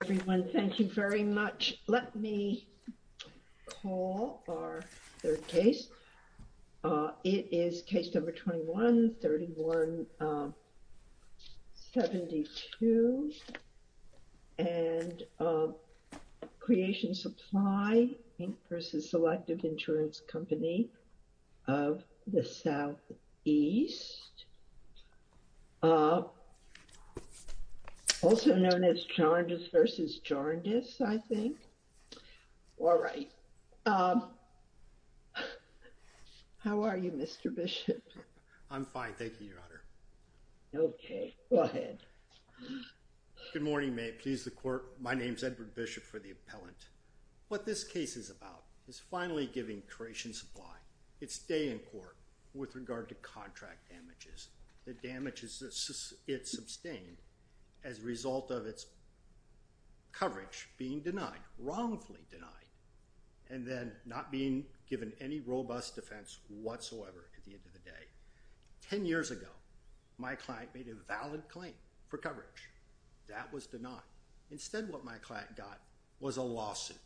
the Southeast, also known as Charges v. Inquiry. We have a case number 31-72. This is Jorndis, I think. How are you, Mr. Bishop? I'm fine, thank you, Your Honor. Good morning, may it please the Court. My name is Edward Bishop for the Appellant. What this case is about is finally giving Croatian Supply its day in court with regard to contract damages. The damages it sustained as a result of its coverage being denied, wrongfully denied, and then not being given any robust defense whatsoever at the end of the day. Ten years ago, my client made a valid claim for coverage. That was denied. Instead, what my client got was a lawsuit.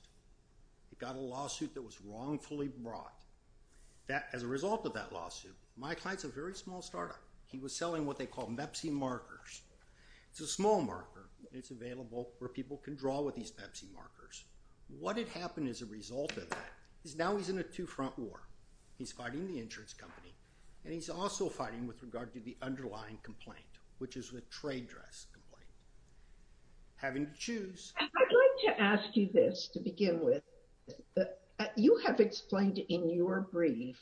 He got a lawsuit that was wrongfully brought. As a result of that lawsuit, my client's a very small startup. He was selling what they call Mepsi Markers. It's a small marker. It's available where people can draw with these Pepsi Markers. What had happened as a result of that is now he's in a two-front war. He's fighting the insurance company, and he's also fighting with regard to the underlying complaint, which is the trade dress complaint. Having to choose. I'd like to ask you this to begin with. You have explained in your brief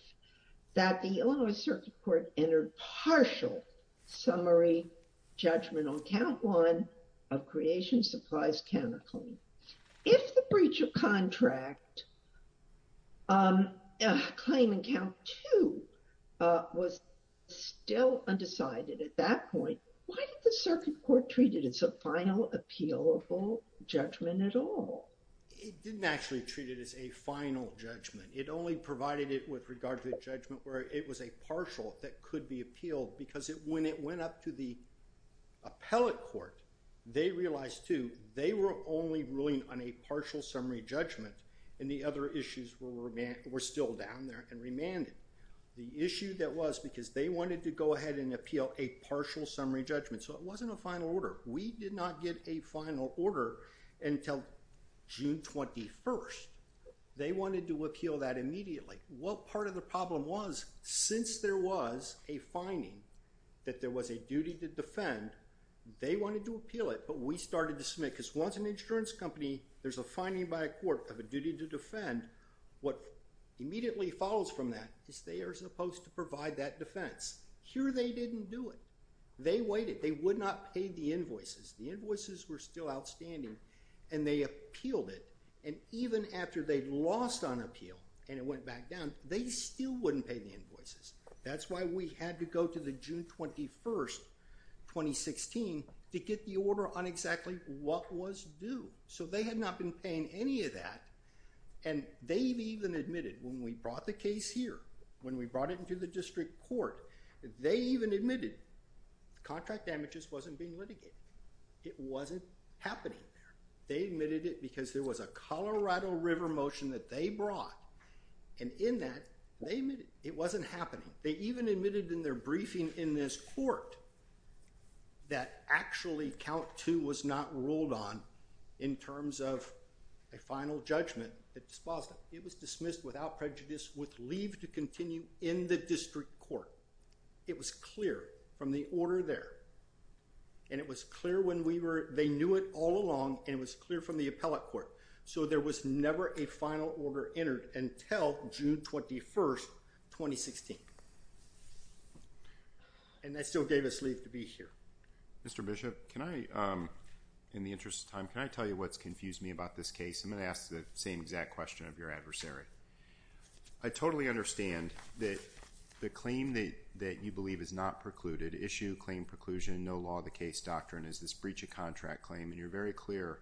that the Illinois Circuit Court entered partial summary judgment on count one of creation, supplies, counterclaim. If the breach of contract claim in count two was still undecided at that point, why did the Circuit Court treat it as a final, appealable judgment at all? It didn't actually treat it as a final judgment. It only provided it with regard to the judgment where it was a final judgment. When it went up to the appellate court, they realized, too, they were only ruling on a partial summary judgment and the other issues were still down there and remanded. The issue that was, because they wanted to go ahead and appeal a partial summary judgment, so it wasn't a final order. We did not get a final order until June 21st. They wanted to appeal that immediately. What part of the problem was, since there was a finding that there was a duty to defend, they wanted to appeal it, but we started to submit, because once an insurance company there's a finding by a court of a duty to defend, what immediately follows from that is they are supposed to provide that defense. Here they didn't do it. They waited. They would not pay the invoices. The invoices were still outstanding and they appealed it and even after they lost on appeal and it went back down, they still wouldn't pay the invoices. That's why we had to go to the June 21st, 2016, to get the order on exactly what was due. They had not been paying any of that and they even admitted, when we brought the case here, when we brought it into the district court, they even admitted contract damages wasn't being litigated. It wasn't happening. They admitted it because there was a Colorado River motion that they brought and in that, it wasn't happening. They even admitted in their briefing in this court that actually count two was not ruled on in terms of a final judgment. It was dismissed without prejudice with leave to continue in the district court. It was clear from the order there and it was clear when we were, they knew it all along and it was clear from the appellate court. There was never a final order entered until June 21st, 2016. That still gave us leave to be here. In the interest of time, can I tell you what's confused me about this case? I'm going to ask the same exact question of your adversary. I totally understand that the claim that you believe is not precluded, issue claim preclusion, no law of the case doctrine is this breach of contract claim and you're very clear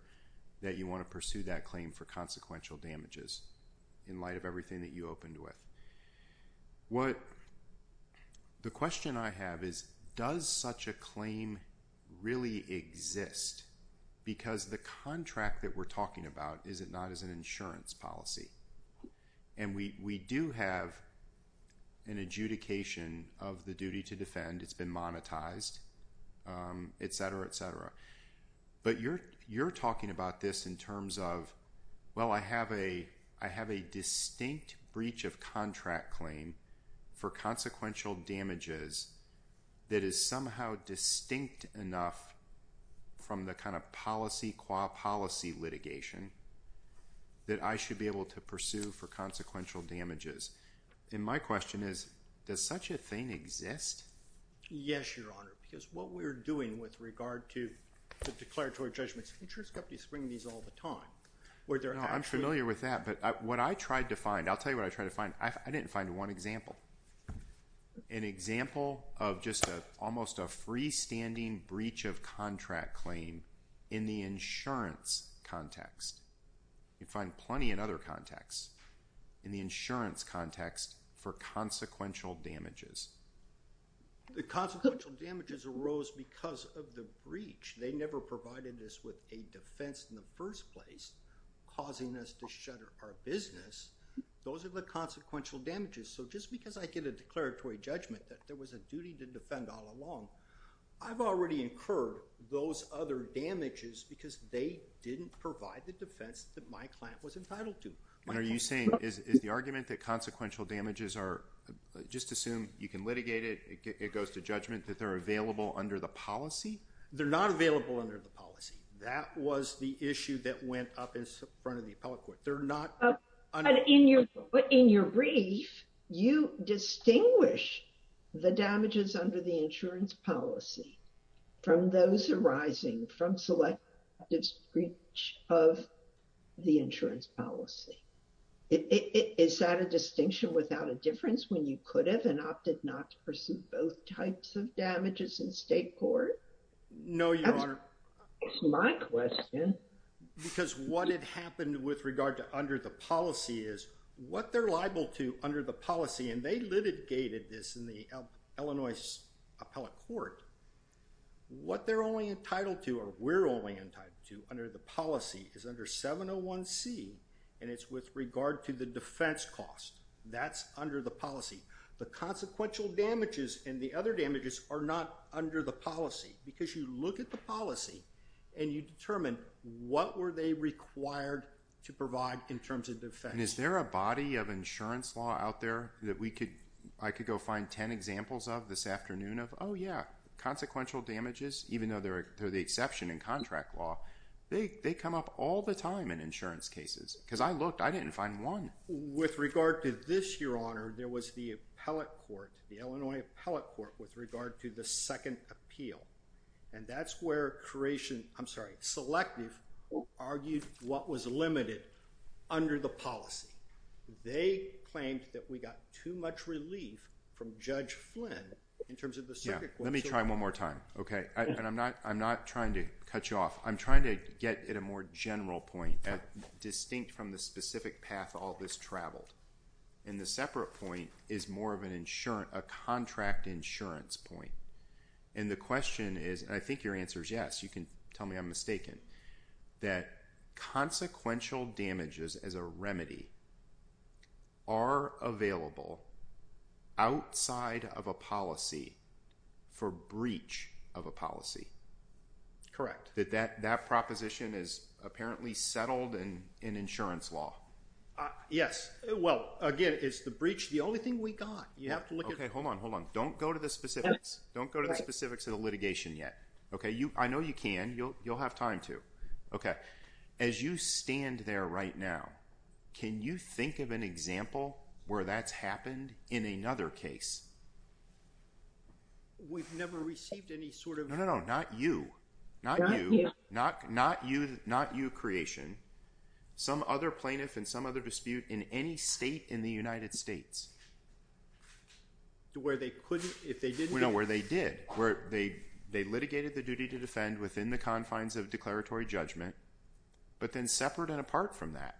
that you want to pursue that claim for consequential damages in light of everything that you opened with. The question I have is does such a claim really exist because the contract that we're talking about is it not as an insurance policy? We do have an adjudication of the duty to defend. It's been monetized, etc. You're talking about this in terms of I have a distinct breach of contract claim for consequential damages that is somehow distinct enough from the policy litigation that I should be able to pursue for consequential damages. My question is does such a thing exist? Yes, Your Honor. What we're doing with regard to the declaratory judgments, insurance companies bring these all the time. I'm familiar with that. I'll tell you what I tried to find. I didn't find one example. An example of just almost a freestanding breach of contract claim in the insurance context. You find plenty in other contexts. In the insurance context for consequential damages. The consequential damages arose because of the breach. They never provided us with a defense in the first place causing us to shutter our business. Those are the consequential damages. Just because I get a declaratory judgment that there was a duty to defend all along, I've already incurred those other damages because they didn't provide the defense that my client was entitled to. Are you saying is the argument that consequential damages are, just assume you can litigate it, it goes to judgment, that they're available under the policy? They're not available under the policy. That was the issue that went up in front of the appellate court. In your brief, you distinguish the damages under the insurance policy from those arising from selective breach of the insurance policy. Is that a distinction without a difference when you could have and opted not to proceed both types of damages in state court? No, Your Honor. That's my question. Because what had happened with regard to under the policy is what they're liable to under the policy, and they litigated this in the Illinois appellate court, what they're only entitled to or we're only entitled to under the policy is under 701C, and it's with regard to the defense cost. That's under the policy. The consequential damages and the other damages are not under the policy because you look at the policy and you determine what were they required to provide in terms of defense. And is there a body of insurance law out there that I could go find ten examples of this afternoon of, oh yeah, consequential damages, even though they're the exception in contract law, they come up all the time in insurance cases. Because I looked, I didn't find one. With regard to this, Your Honor, there was the appellate court, the Illinois appellate court with regard to the second appeal. And that's where creation, I'm sorry, selective argued what was limited under the policy. They claimed that we got too much relief from Judge Flynn in terms of the circuit court. Let me try one more time. Okay. And I'm not trying to cut you off. I'm trying to get at a more general point, distinct from the specific path all this traveled. And the separate point is more of an insurance, a contract insurance point. And the question is, and I think your answer is yes, you can tell me I'm mistaken, that consequential damages as a remedy are available outside of a policy for breach of a policy. That proposition is apparently settled in insurance law. Yes. Well, again, is the breach the only thing we got? Hold on. Don't go to the specifics. Don't go to the specifics of the litigation yet. I know you can. You'll have time to. As you stand there right now, can you think of an example where that's happened in another case? We've never received any sort of... No, no, no. Not you. Not you. Not you creation. Some other plaintiff in some other dispute in any state in the United States. Where they couldn't, if they didn't... No, where they did. Where they litigated the duty to defend within the confines of declaratory judgment, but then separate and apart from that,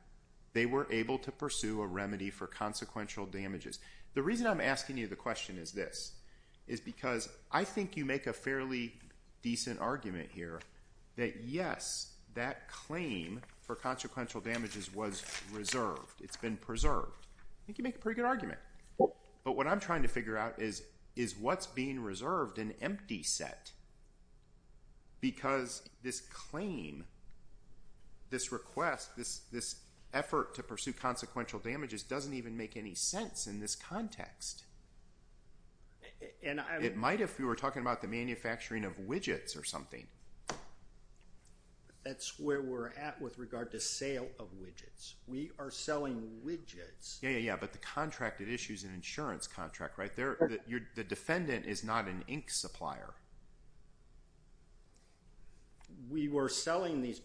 they were able to pursue a remedy for consequential damages. The reason I'm asking you the question is this, is because I think you make a fairly decent argument here that yes, that claim for consequential damages was reserved. It's been preserved. I think you make a pretty good argument. But what I'm trying to figure out is, is what's being reserved an empty set? Because this claim, this request, this effort to pursue consequential damages doesn't even make any sense in this context. It might if we were talking about the manufacturing of widgets or something. That's where we're at with regard to sale of widgets. We are selling widgets. Yeah, yeah, yeah. But the contract at issue is an insurance contract, right? The defendant is not an ink supplier. We were selling these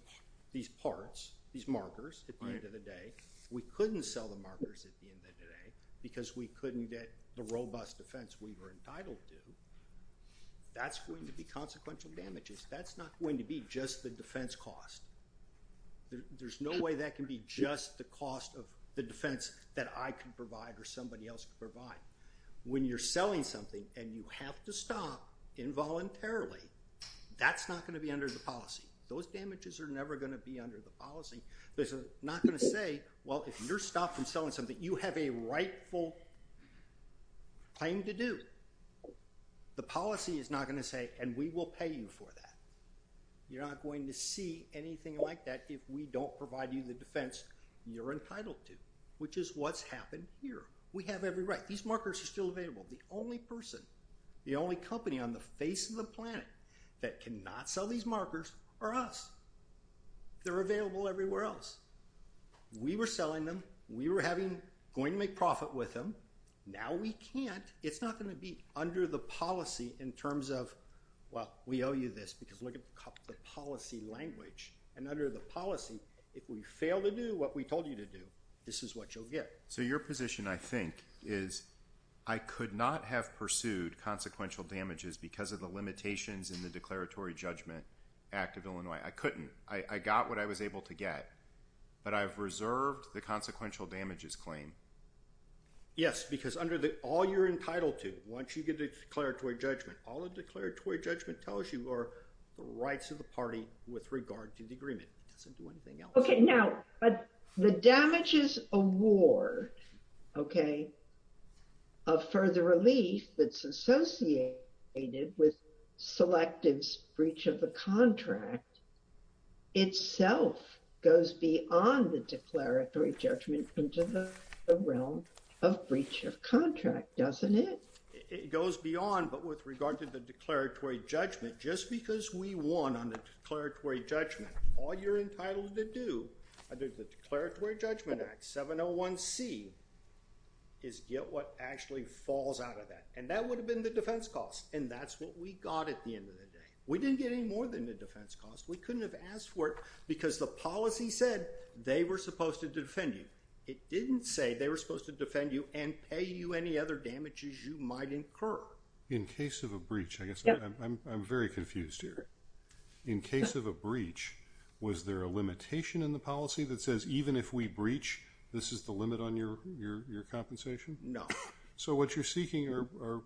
parts, these markers at the end of the day. We couldn't sell the markers at the end of the day because we couldn't get the robust defense we were entitled to. That's going to be consequential damages. That's not going to be just the defense cost. There's no way that can be just the cost of the defense that I can provide or somebody else can provide. When you're selling something and you have to stop involuntarily, that's not going to be under the policy. Those damages are never going to be under the policy. They're not going to say, well, if you're stopped from selling something, you have a rightful claim to do. The policy is not going to say, and we will pay you for that. You're not going to see anything like that if we don't provide you the defense you're entitled to, which is what's happened here. We have every right. These markers are still available. The only person, the only company on the face of the planet that cannot sell these they're available everywhere else. We were selling them. We were going to make profit with them. Now we can't. It's not going to be under the policy in terms of, well, we owe you this because look at the policy language. Under the policy, if we fail to do what we told you to do, this is what you'll get. Your position, I think, is I could not have pursued consequential damages because of the limitations in the declaratory judgment act of Illinois. I couldn't. I got what I was able to get, but I've reserved the consequential damages claim. Yes, because under all you're entitled to, once you get a declaratory judgment, all the declaratory judgment tells you are the rights of the party with regard to the agreement. It doesn't do anything else. The damages award of further relief that's associated with selective breach of the contract itself goes beyond the declaratory judgment into the realm of breach of contract, doesn't it? It goes beyond, but with regard to the declaratory judgment, just because we won on the declaratory judgment, all you're entitled to do under the declaratory judgment act, 701c, is get what actually falls out of that. That would have been the defense cost, and that's what we got at the end of the day. We didn't get any more than the defense cost. We couldn't have asked for it because the policy said they were supposed to defend you. It didn't say they were supposed to defend you and pay you any other damages you might incur. In case of a breach, I guess I'm very confused here. In case of a breach, was there a limitation in the policy that says even if we breach, this is the limit on your compensation? No. What you're seeking are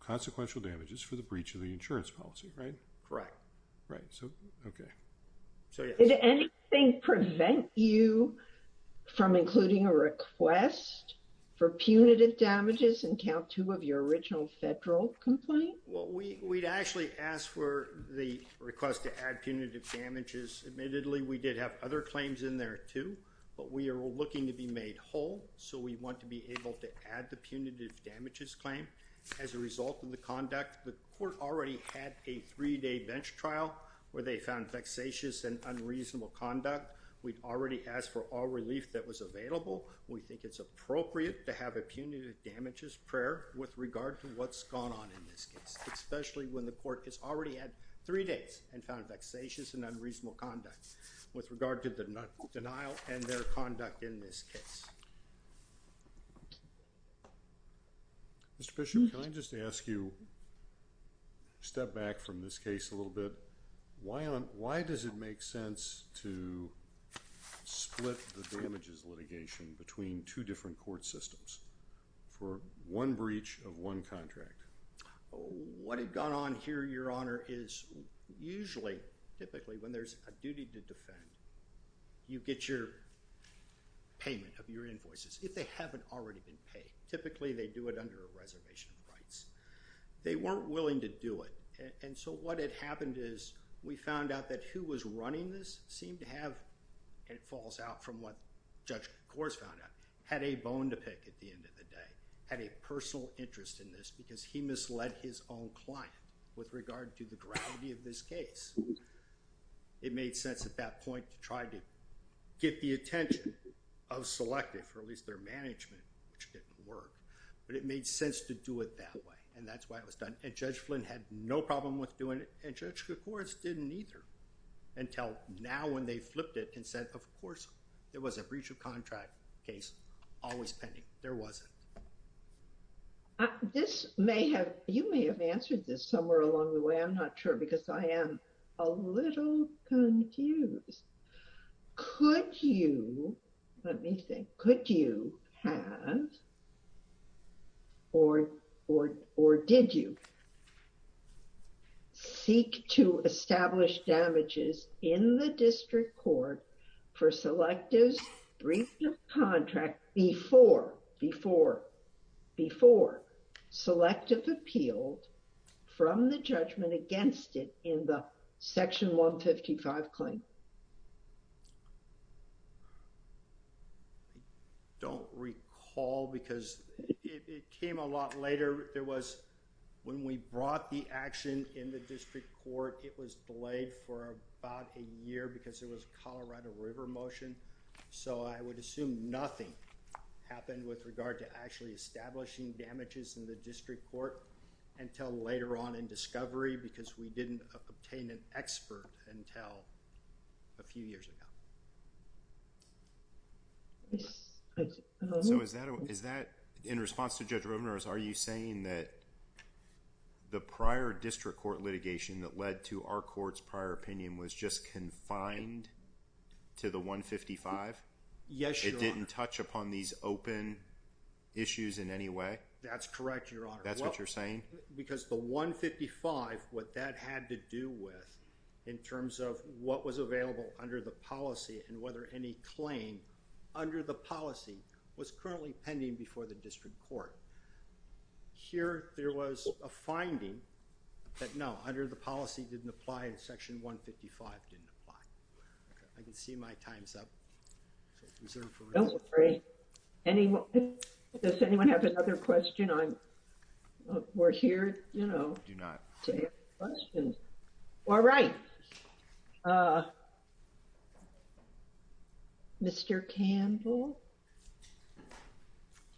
consequential damages for the breach of the insurance policy, right? Correct. Did anything prevent you from including a request for punitive damages in Count 2 of your original federal complaint? We actually asked for the request to add punitive damages. Admittedly, we did have other claims in there too, but we are looking to be made whole, so we want to be able to add the punitive damages claim. As a result of the conduct, the court already had a three-day bench trial where they found vexatious and unreasonable conduct. We'd already asked for all relief that was available. We think it's appropriate to have a punitive damages prayer with regard to what's gone on in this case, especially when the court has already had three days and found vexatious and unreasonable conduct with regard to the denial and their conduct in this case. Mr. Bishop, can I just ask you to step back from this case a little bit? Why does it make sense to split the damages litigation between two different court systems for one breach of one contract? What had gone on here, Your Honor, is usually, typically, when there's a duty to secure payment of your invoices, if they haven't already been paid, typically they do it under a reservation of rights. They weren't willing to do it, and so what had happened is we found out that who was running this seemed to have, and it falls out from what Judge Coors found out, had a bone to pick at the end of the day, had a personal interest in this because he misled his own client with regard to the gravity of this case. It made sense at that point to try to get the attention of Selective, or at least their management, which didn't work, but it made sense to do it that way, and that's why it was done. And Judge Flynn had no problem with doing it, and Judge Coors didn't either, until now when they flipped it and said of course there was a breach of contract case always pending. There wasn't. This may have, you may have answered this somewhere along the way. I'm not sure because I am a lawyer. Could you, let me think, could you have, or did you, seek to establish damages in the District Court for Selective's breach of contract before Selective appealed from the judgment against it in the Section 155 claim? Don't recall because it came a lot later. There was, when we brought the action in the District Court, it was delayed for about a year because it was Colorado River motion, so I would assume nothing happened with regard to actually establishing damages in the District Court until later on in discovery because we didn't obtain an expert until a few years ago. So is that, in response to Judge Rovner, are you saying that the prior District Court litigation that led to our Court's prior opinion was just confined to the 155? Yes, Your Honor. It didn't touch upon these open issues in any way? That's correct, Your Honor. That's what you're saying? Because the 155, what that had to do with in terms of what was available under the policy and whether any claim under the policy was currently pending before the District Court. Here, there was a finding that no, under the policy didn't apply and Section 155 didn't apply. I can see my time's up. Does anyone have another question? We're here to answer questions. All right. Mr. Campbell?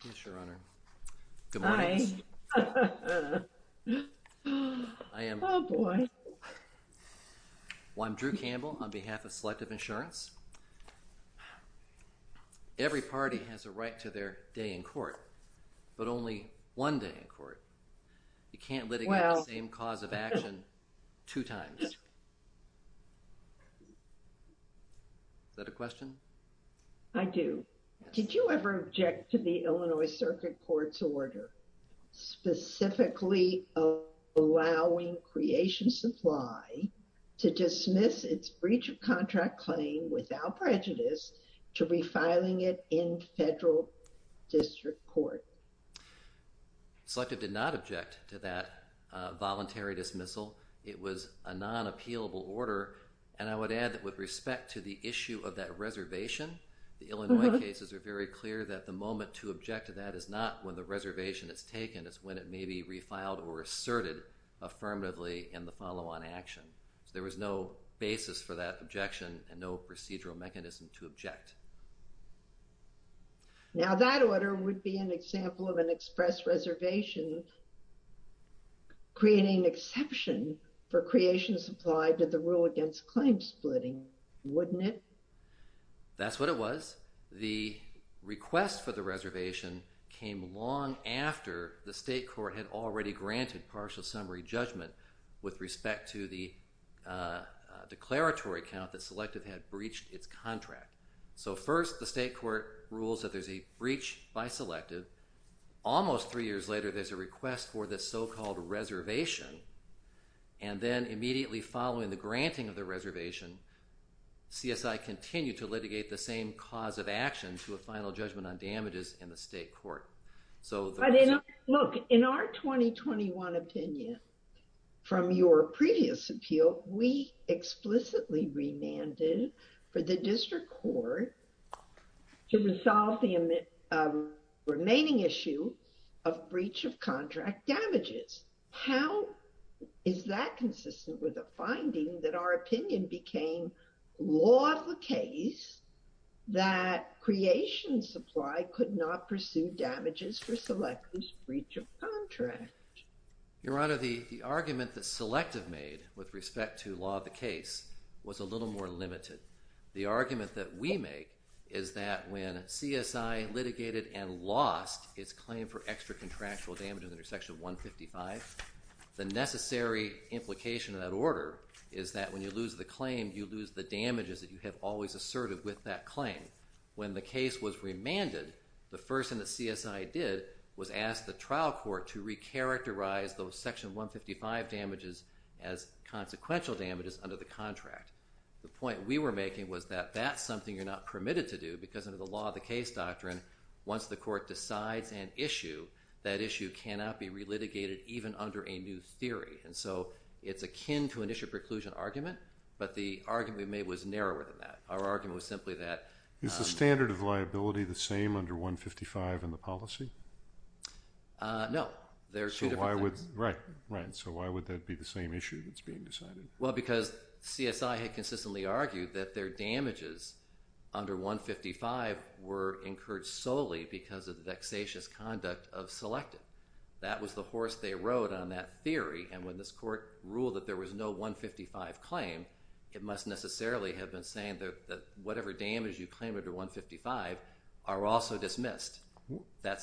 Yes, Your Honor. Good morning. Oh, boy. Well, I'm Drew Campbell on behalf of Selective Insurance. Every party has a right to their day in court, but only one day in court. You can't litigate the same cause of action two times. Is that a question? I do. Did you ever object to the Illinois Circuit Court's order specifically allowing Creation Supply to dismiss its breach of contract claim without prejudice to refiling it in Federal District Court? Selective did not object to that voluntary dismissal. It was a non-appealable order, and I would add that with respect to the issue of that reservation, the Illinois cases are very clear that the moment to object to that is not when the reservation is taken, it's when it may be refiled or asserted affirmatively in the follow-on action. There was no basis for that objection and no procedural mechanism to object. Now, that order would be an example of an express reservation creating exception for Creation Supply to the rule against claim splitting, wouldn't it? That's what it was. The request for the reservation came long after the state court had already granted partial summary judgment with respect to the declaratory count that Selective had breached its contract. So first, the state court rules that there's a breach by Selective. Almost three years later, there's a request for this so-called reservation, and then immediately following the granting of the reservation, CSI continued to litigate the same cause of action to a final judgment on damages in the state court. In our 2021 opinion, from your previous appeal, we explicitly remanded for the district court to resolve the remaining issue of breach of contract damages. How is that consistent with the finding that our opinion became law of the case that Creation Supply could not pursue damages for Selective's breach of contract? Your Honor, the argument that Selective made with respect to law of the case was a little more limited. The argument that we make is that when CSI litigated and lost its claim for extra contractual damages under Section 155, the necessary implication of that order is that when you lose the claim, you lose the damages that you have always asserted with that claim. When the case was remanded, the first thing that CSI did was ask the trial court to recharacterize those Section 155 damages as consequential damages under the contract. The point we were making was that that's something you're not permitted to do because under the law of the case doctrine, once the court decides an issue, that issue cannot be relitigated even under a new theory. It's akin to an issue preclusion argument, but the argument we made was narrower than that. Our argument was simply that... Is the standard of liability the same under 155 in the policy? No. Why would that be the same issue that's being decided? CSI had consistently argued that their damages under 155 were incurred solely because of the vexatious conduct of Selective. That was the horse they rode on that theory, and when this court ruled that there was no 155 claim, it must necessarily have been saying that whatever damage you claim under 155 are also dismissed.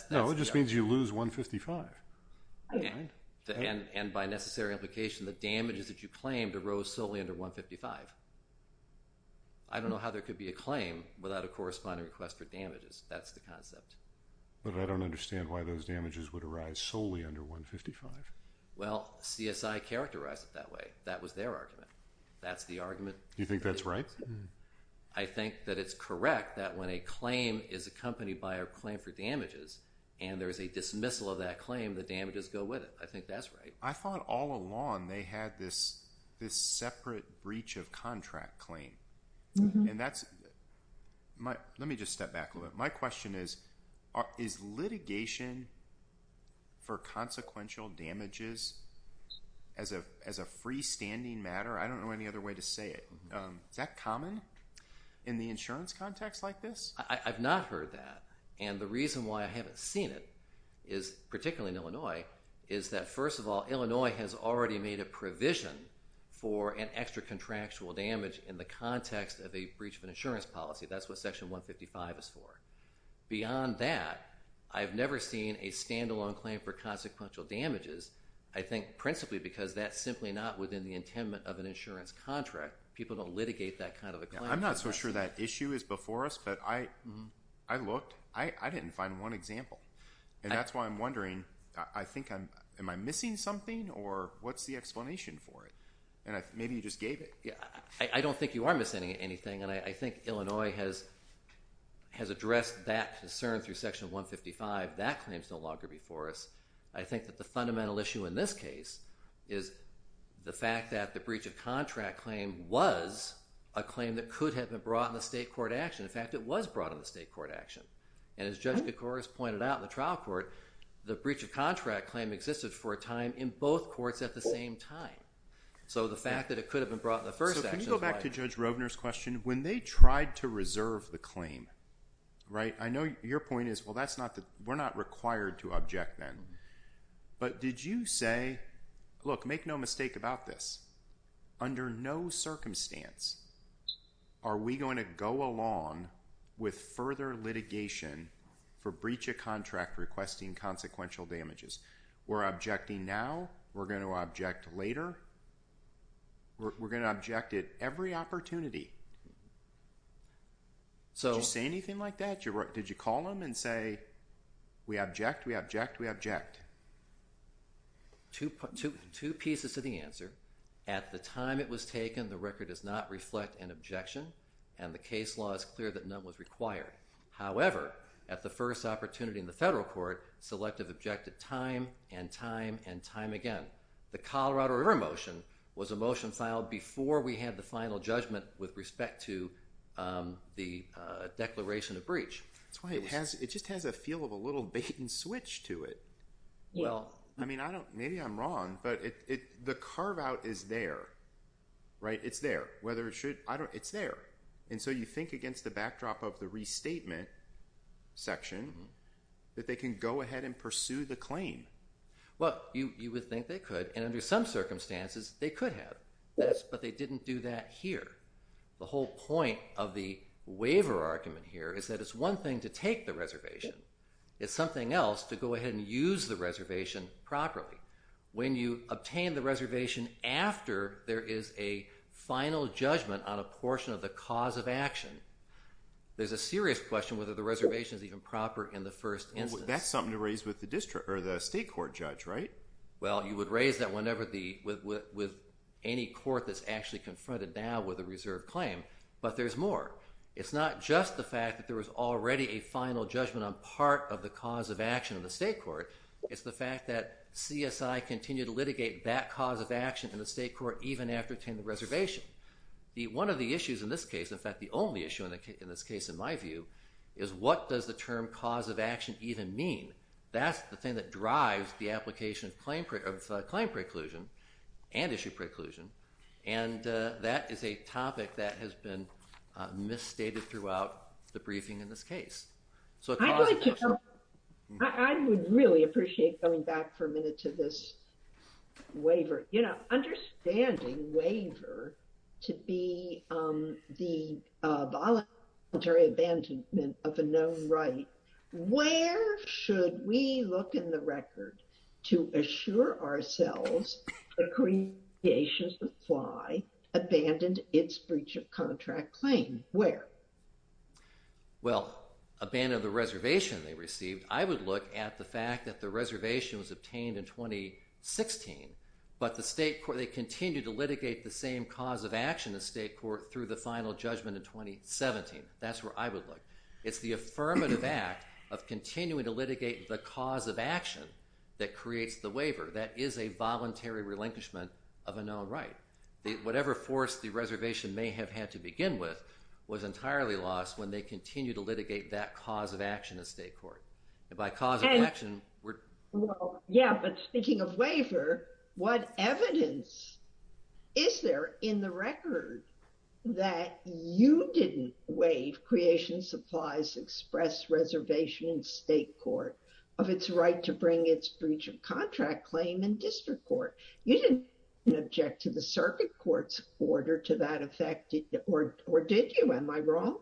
No, it just means you lose 155. And by necessary implication, the damages that you claimed arose solely under 155. I don't know how there could be a claim without a corresponding request for damages. That's the concept. But I don't understand why those damages would arise solely under 155. Well, CSI characterized it that way. That was their argument. That's the argument... You think that's right? I think that it's correct that when a claim is accompanied by a claim for damages, and there is a dismissal of that claim, the damages go with it. I think that's right. I thought all along they had this separate breach of contract claim. And that's... Let me just step back a little bit. My question is, is litigation for consequential damages as a freestanding matter? I don't know any other way to say it. Is that common in the insurance context like this? I've not heard that. And the reason why I haven't seen it, particularly in Illinois, is that first of all, Illinois has already made a provision for an extra contractual damage in the context of a breach of an insurance policy. That's what section 155 is for. Beyond that, I've never seen a stand-alone claim for consequential damages. I think principally because that's simply not within the intent of an insurance contract. People don't litigate that kind of a claim. I'm not so sure that issue is before us, but I looked. I didn't find one example. And that's why I'm wondering, am I missing something or what's the explanation for it? Maybe you just gave it. I don't think you are missing anything. And I think Illinois has addressed that concern through section 155. That claim is no longer before us. I think that the fundamental issue in this case is the fact that the breach of contract claim was a claim that could have been brought in a state court action. In fact, it was brought in a state court action. And as Judge Kacouras pointed out in the trial court, the breach of contract claim existed for a time in both courts at the same time. So the fact that it could have been brought in the first action is why. So can you go back to Judge Roebner's question? When they tried to reserve the claim, I know your point is, well, we're not required to object then. But did you say, look, make no mistake about this. Under no circumstance are we going to go along with further litigation for breach of contract requesting consequential damages. We're objecting now. We're going to object later. We're going to object at every opportunity. Did you say anything like that? Did you call them and say we object, we object, we object? Two pieces to the answer. At the time it was taken, the record does not reflect an objection and the case law is clear that none was required. However, at the first opportunity in the federal court, selective objected time and time and time again. The Colorado River motion was a motion filed before we had the final judgment with respect to the declaration of the claim. I mean, I don't, maybe I'm wrong, but the carve out is there. It's there. It's there. And so you think against the backdrop of the restatement section that they can go ahead and pursue the claim. Well, you would think they could. And under some circumstances, they could have. But they didn't do that here. The whole point of the waiver argument here is that it's one thing to take the reservation. It's something else to go ahead and use the reservation properly. When you obtain the reservation after there is a final judgment on a portion of the cause of action, there's a serious question whether the reservation is even proper in the first instance. That's something to raise with the state court judge, right? Well, you would raise that with any court that's actually confronted now with a reserved claim. But there's more. It's not just the fact that there was already a final judgment on part of the cause of action in the state court. It's the fact that CSI continued to litigate that cause of action in the state court even after obtaining the reservation. One of the issues in this case, in fact the only issue in this case in my view, is what does the term cause of action even mean? That's the thing that drives the application of claim preclusion and issue preclusion. And that is a topic that has been misstated throughout the briefing in this case. I would really appreciate going back for a minute to this waiver. You know, understanding waiver to be the voluntary abandonment of a known right, where should we look in the record to assure ourselves the creation supply abandoned its breach of contract claim? Where? Well, abandoned the reservation they received. I would look at the fact that the reservation was obtained in 2016 but the state court, they continued to litigate the same cause of action in the state court through the final judgment in 2017. That's where I would look. It's the affirmative act of continuing to litigate the cause of action that creates the waiver. That is a voluntary relinquishment of a known right. Whatever force the reservation may have had to begin with was entirely lost when they continued to litigate that cause of action in state court. And by cause of action... Yeah, but speaking of waiver, what evidence is there in the record that you didn't waive creation supplies express reservation in state court of its right to bring its breach of contract claim in district court? You didn't object to the circuit court's order to that effect, or did you? Am I wrong?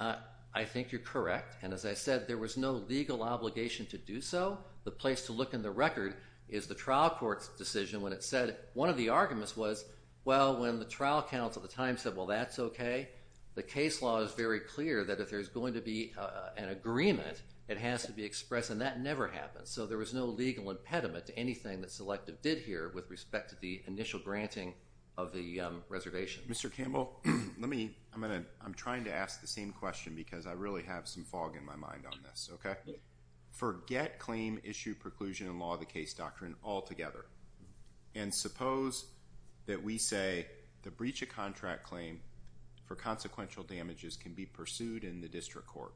I think you're correct. And as I said, there was no legal obligation to do so. The place to look in the record is the trial court's decision when it said... One of the arguments was, well, when the trial counsel at the time said, well, that's okay, the case law is very clear that if there's going to be an agreement, it has to be expressed. And that never happens. So there was no legal impediment to anything that Selective did here with respect to the initial granting of the reservation. Mr. Campbell, I'm trying to ask the same question because I really have some fog in my mind on this. Forget claim, issue, preclusion, and law of the case doctrine altogether. And suppose that we say the breach of contract claim for consequential damages can be pursued in the district court.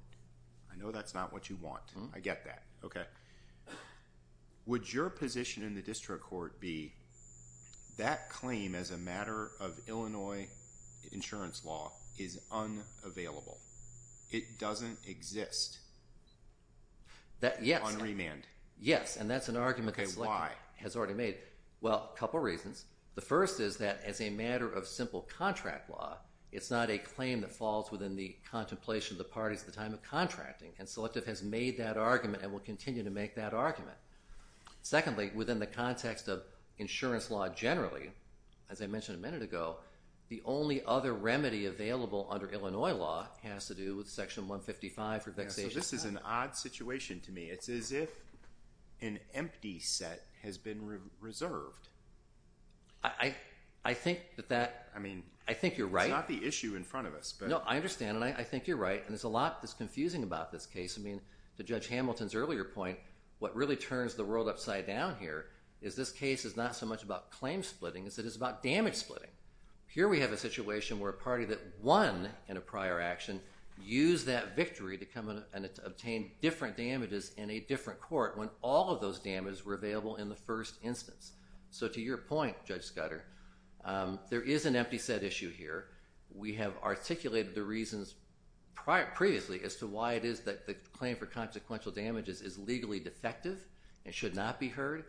I know that's not what you want. I get that. Would your position in the district court be that claim as a matter of Illinois insurance law is unavailable? It doesn't exist? On remand? Yes, and that's an argument that Selective has already made. Well, a couple reasons. The first is that as a matter of simple contract law, it's not a claim that falls within the contemplation of the parties at the time of contracting. And Selective has made that argument and will continue to make that argument. Secondly, within the context of insurance law generally, as I mentioned a minute ago, the only other remedy available under Illinois law has to do with Section 155 for vexation. So this is an odd situation to me. It's as if an empty set has been reserved. I think you're right. It's not the issue in front of us. I understand, and I think you're right. There's a lot that's confusing about this case. To Judge Hamilton's earlier point, what really turns the world upside down here is this case is not so much about claim splitting as it is about damage splitting. Here we have a situation where a party that won in a prior action used that victory to come and obtain different damages in a different court when all of those damages were available in the first instance. So to your point, Judge Scudder, there is an empty set issue here. We have articulated the reasons previously as to why it is that the claim for consequential damages is legally defective and should not be heard.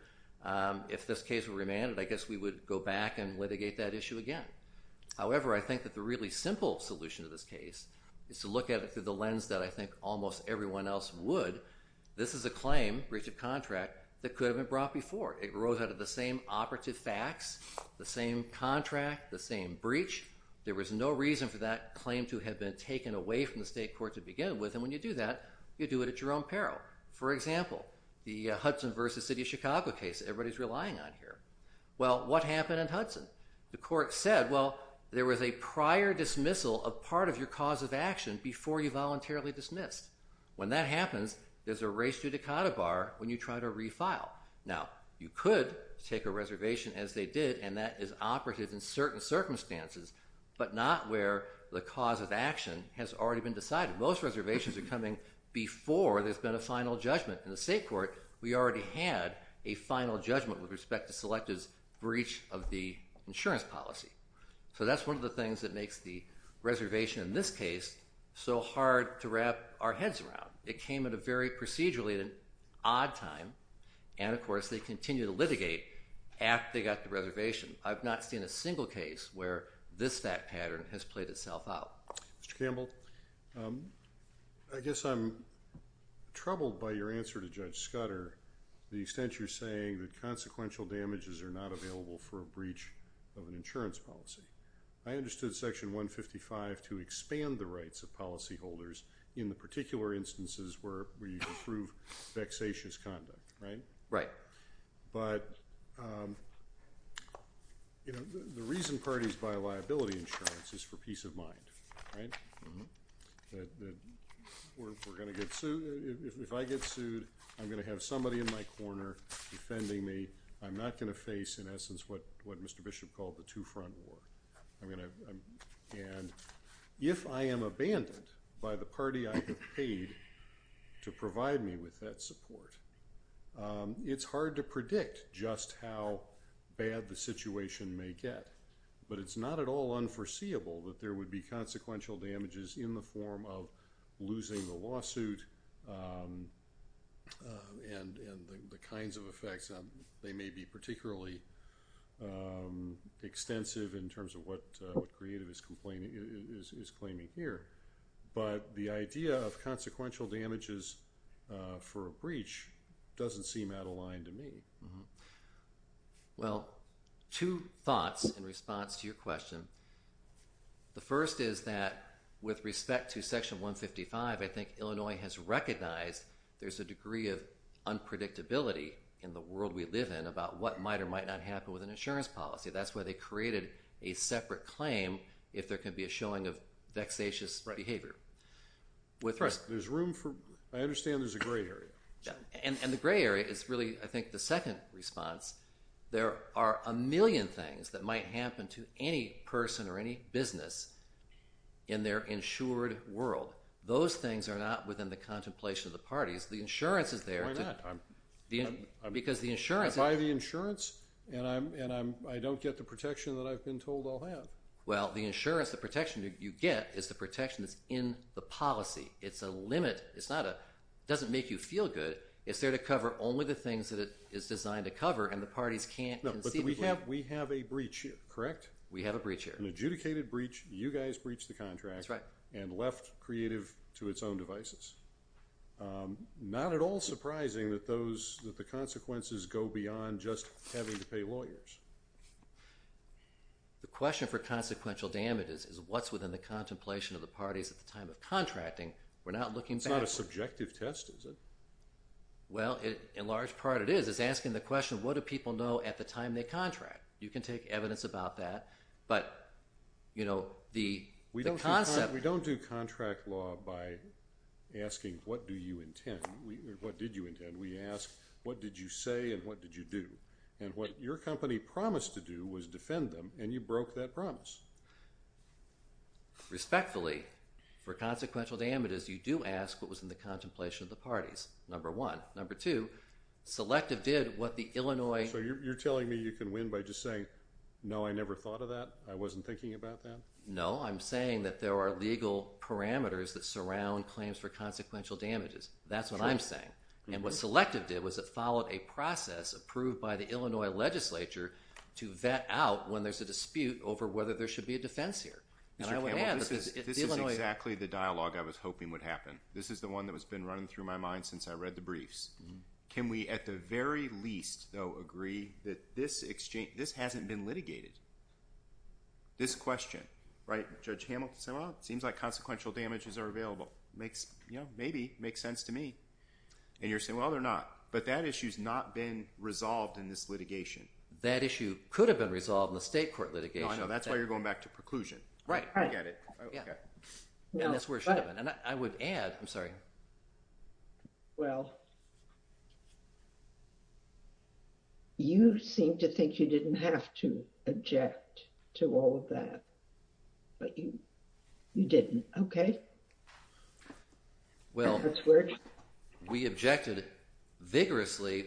If this case were remanded, I guess we would go back and litigate that issue again. However, I think that the really simple solution to this case is to look at it through the lens that I think almost everyone else would. This is a claim, breach of contract, that could have been brought before. It arose out of the same operative facts, the same contract, the same breach. There was no reason for that claim to have been taken away from the state court to begin with, and when you do that, you do it at your own peril. For example, the Hudson v. City of Chicago case that everybody's relying on here. Well, what happened in Hudson? The court said, well, there was a prior dismissal of part of your cause of action before you voluntarily dismissed. When that happens, there's a res judicata bar when you try to refile. Now, you could take a reservation as they did, and that is operative in certain circumstances, but not where the cause of action has already been decided. Most reservations are coming before there's been a final judgment. In the state court, we already had a final judgment with respect to Selective's breach of the insurance policy. So that's one of the things that makes the reservation in this case so hard to wrap our heads around. Mr. Campbell, I guess I'm troubled by your answer to Judge Scudder, the extent you're saying that consequential damages are not available for a breach of an insurance policy. I understood Section 155 to expand the rights of policyholders in the particular instances where you approve vexatious conduct, right? But the reason parties buy liability insurance is for peace of mind, right? If I get sued, I'm going to have somebody in my corner defending me. I'm not going to face, in essence, what Mr. Bishop called the two-front war. And if I am abandoned by the party I have paid to provide me with that support, it's hard to predict just how bad the situation may get. But it's not at all unforeseeable that there would be consequential damages in the form of losing the lawsuit and the kinds of effects. They may be particularly extensive in terms of what Creative is claiming here. But the idea of consequential damages for a breach doesn't seem out of line to me. Well, two thoughts in response to your question. The first is that with respect to Section 155, I think Illinois has recognized there's a degree of unpredictability in the world we live in about what might or might not happen with an insurance policy. That's why they created a separate claim if there could be a showing of vexatious behavior. I understand there's a gray area. And the gray area is really, I think, the second response. There are a million things that might happen to any person or any business in their insured world. Those things are not within the contemplation of the parties. The insurance is there. Why not? I buy the insurance and I don't get the protection that I've been told I'll have. Well, the insurance, the protection you get is the protection that's in the policy. It's a limit. It doesn't make you feel good. It's there to cover only the things that it is designed to cover and the parties can't conceivably... We have a breach here, correct? We have a breach here. An adjudicated breach. You guys breached the contract. That's right. And left Creative to its own devices. Not at all surprising that the consequences go beyond just having to pay lawyers. The question for consequential damage is what's within the contemplation of the parties at the time of contracting. We're not looking back. It's not a subjective test, is it? Well, in large part it is. It's asking the question, what do people know at the time they contract? You can take evidence about that, but the concept... We don't do contract law by asking, what do you intend? What did you intend? We ask, what did you say and what did you do? And what your company promised to do was defend them and you broke that promise. Respectfully, for consequential damages, you do ask what was in the contemplation of the parties, number one. Number two, Selective did what the Illinois... So you're telling me you can win by just saying, no, I never thought of that? I wasn't thinking about that? No, I'm saying that there are legal parameters that surround claims for consequential damages. That's what I'm saying. And what Selective did was it followed a process approved by the Illinois legislature to vet out when there's a dispute over whether there should be a defense here. This is exactly the dialogue I was hoping would happen. This is the one that has been running through my mind since I read the briefs. Can we at the very least, though, agree that this hasn't been litigated? This question. Judge Hamilton said, well, it seems like consequential damages are available. Maybe. Makes sense to me. And you're saying, well, they're not. But that issue's not been resolved in this litigation. That issue could have been resolved in the state court litigation. That's why you're going back to preclusion. Right. I get it. And that's where it should have been. And I would add... I'm sorry. Well, you seem to think you didn't have to object to all of that. But you didn't, okay? Well, we objected vigorously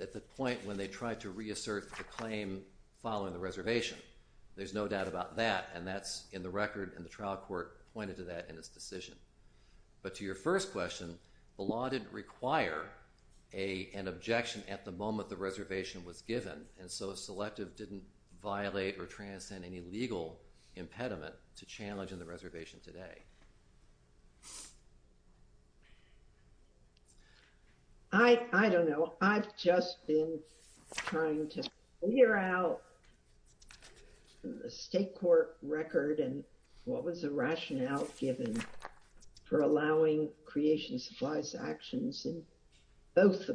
at the point when they tried to reassert the claim following the reservation. There's no doubt about that. And that's in the record, and the trial court pointed to that in its decision. But to your first question, the law didn't require an objection at the moment the reservation was given. And so a selective didn't violate or transcend any legal impediment to the challenge in the reservation today. I don't know. I've just been trying to figure out the state court record and what was the rationale given for allowing creation supplies actions in both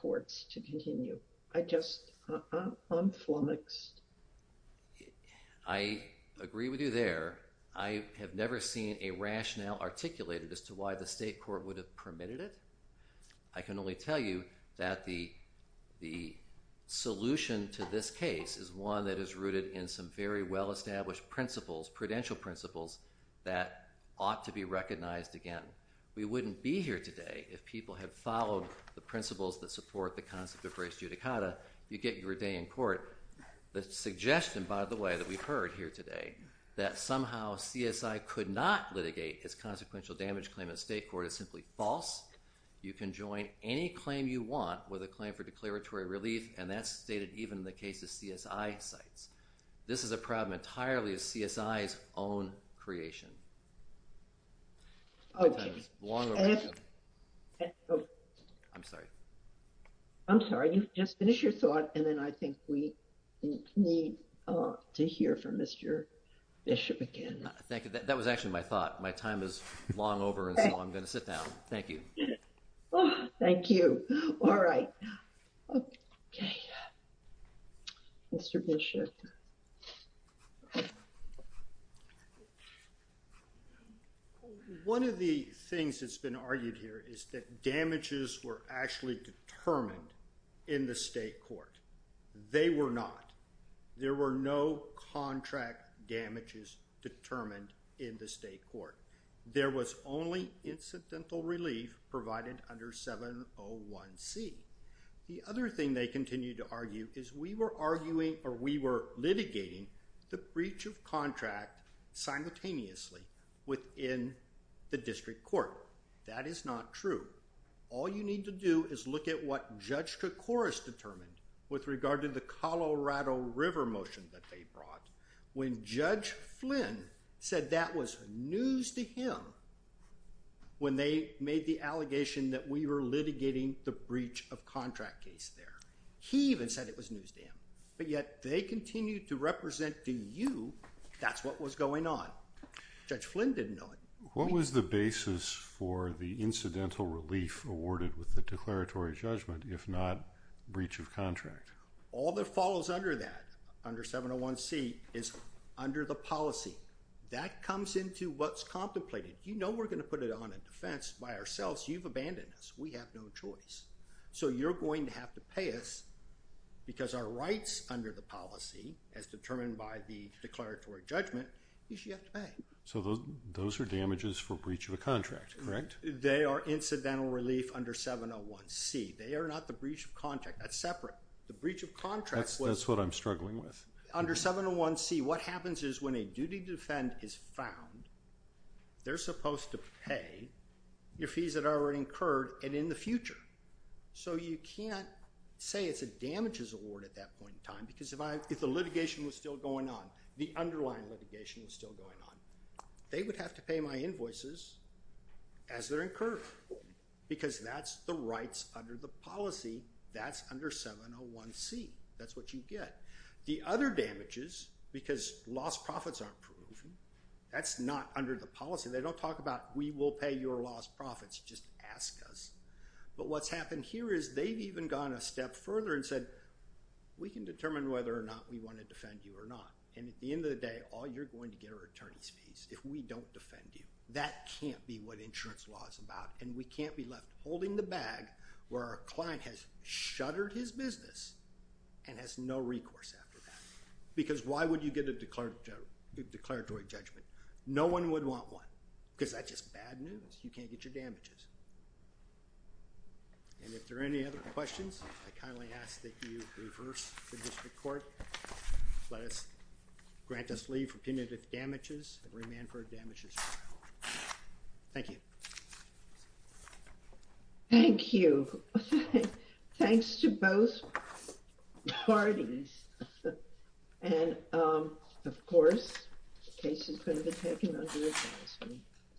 courts to continue. I just... I'm flummoxed. I agree with you there. I have never seen a rationale articulated as to why the state court would have permitted it. I can only tell you that the solution to this case is one that is rooted in some very well-established principles, prudential principles, that ought to be recognized again. We wouldn't be here today if people had followed the principles that support the concept of res judicata. You get your day in court. The suggestion, by the way, that we've heard here today, that somehow CSI could not litigate its consequential damage claim at state court is simply false. You can join any claim you want with a claim for declaratory relief, and that's stated even in the case of CSI sites. This is a problem entirely of CSI's own creation. I'm sorry. I'm sorry. You've just finished your thought, and then I think we need to hear from Mr. Bishop again. Thank you. That was actually my thought. My time is long over, and so I'm going to sit down. Thank you. Thank you. All right. Okay. Mr. Bishop. One of the things that's been argued here is that damages were actually determined in the state court. They were not. There were no contract damages determined in the state court. There was only incidental relief provided under 701C. The other thing they continue to argue is we were arguing or we were litigating the breach of contract simultaneously within the district court. That is not true. All you need to do is look at what Judge Koukouras determined with regard to the Colorado River motion that they brought when Judge Flynn said that was news to him when they made the allegation that we were litigating the breach of contract case there. He even said it was news to him, but yet they continue to represent to you that's what was going on. Judge Flynn didn't know it. What was the basis for the incidental relief awarded with the declaratory judgment if not breach of contract? All that follows under that, under 701C, is under the policy. That comes into what's contemplated. You know we're going to put it on a defense by ourselves. You've abandoned us. We have no choice. So you're going to have to pay us because our rights under the policy as determined by the declaratory judgment you have to pay. So those are damages for breach of a contract, correct? They are incidental relief under 701C. They are not the breach of contract. That's separate. The breach of contract. That's what I'm struggling with. Under 701C, what happens is when a duty to defend is found, they're supposed to pay your fees that are incurred and in the future. So you can't say it's a damages award at that point in time because if the litigation was still going on, the underlying litigation was still going on, they would have to pay my invoices as they're incurred because that's the rights under the policy. That's under 701C. That's what you get. The other damages, because lost profits aren't proven, that's not under the policy. They don't talk about we will pay your lost profits. Just ask us. But what's happened here is they've even gone a step further and said we can determine whether or not we want to defend you or not. At the end of the day, all you're going to get are attorney's fees if we don't defend you. That can't be what insurance law is about and we can't be left holding the bag where our client has shuttered his business and has no recourse after that because why would you get a declaratory judgment? No one would want one because that's just bad news. You can't get your damages. If there are any other questions, I kindly ask that you reverse the district court. Grant us leave for punitive damages and remand for damages. Thank you. Thank you. Thanks to both parties. And of course the case is going to be taken under advisory.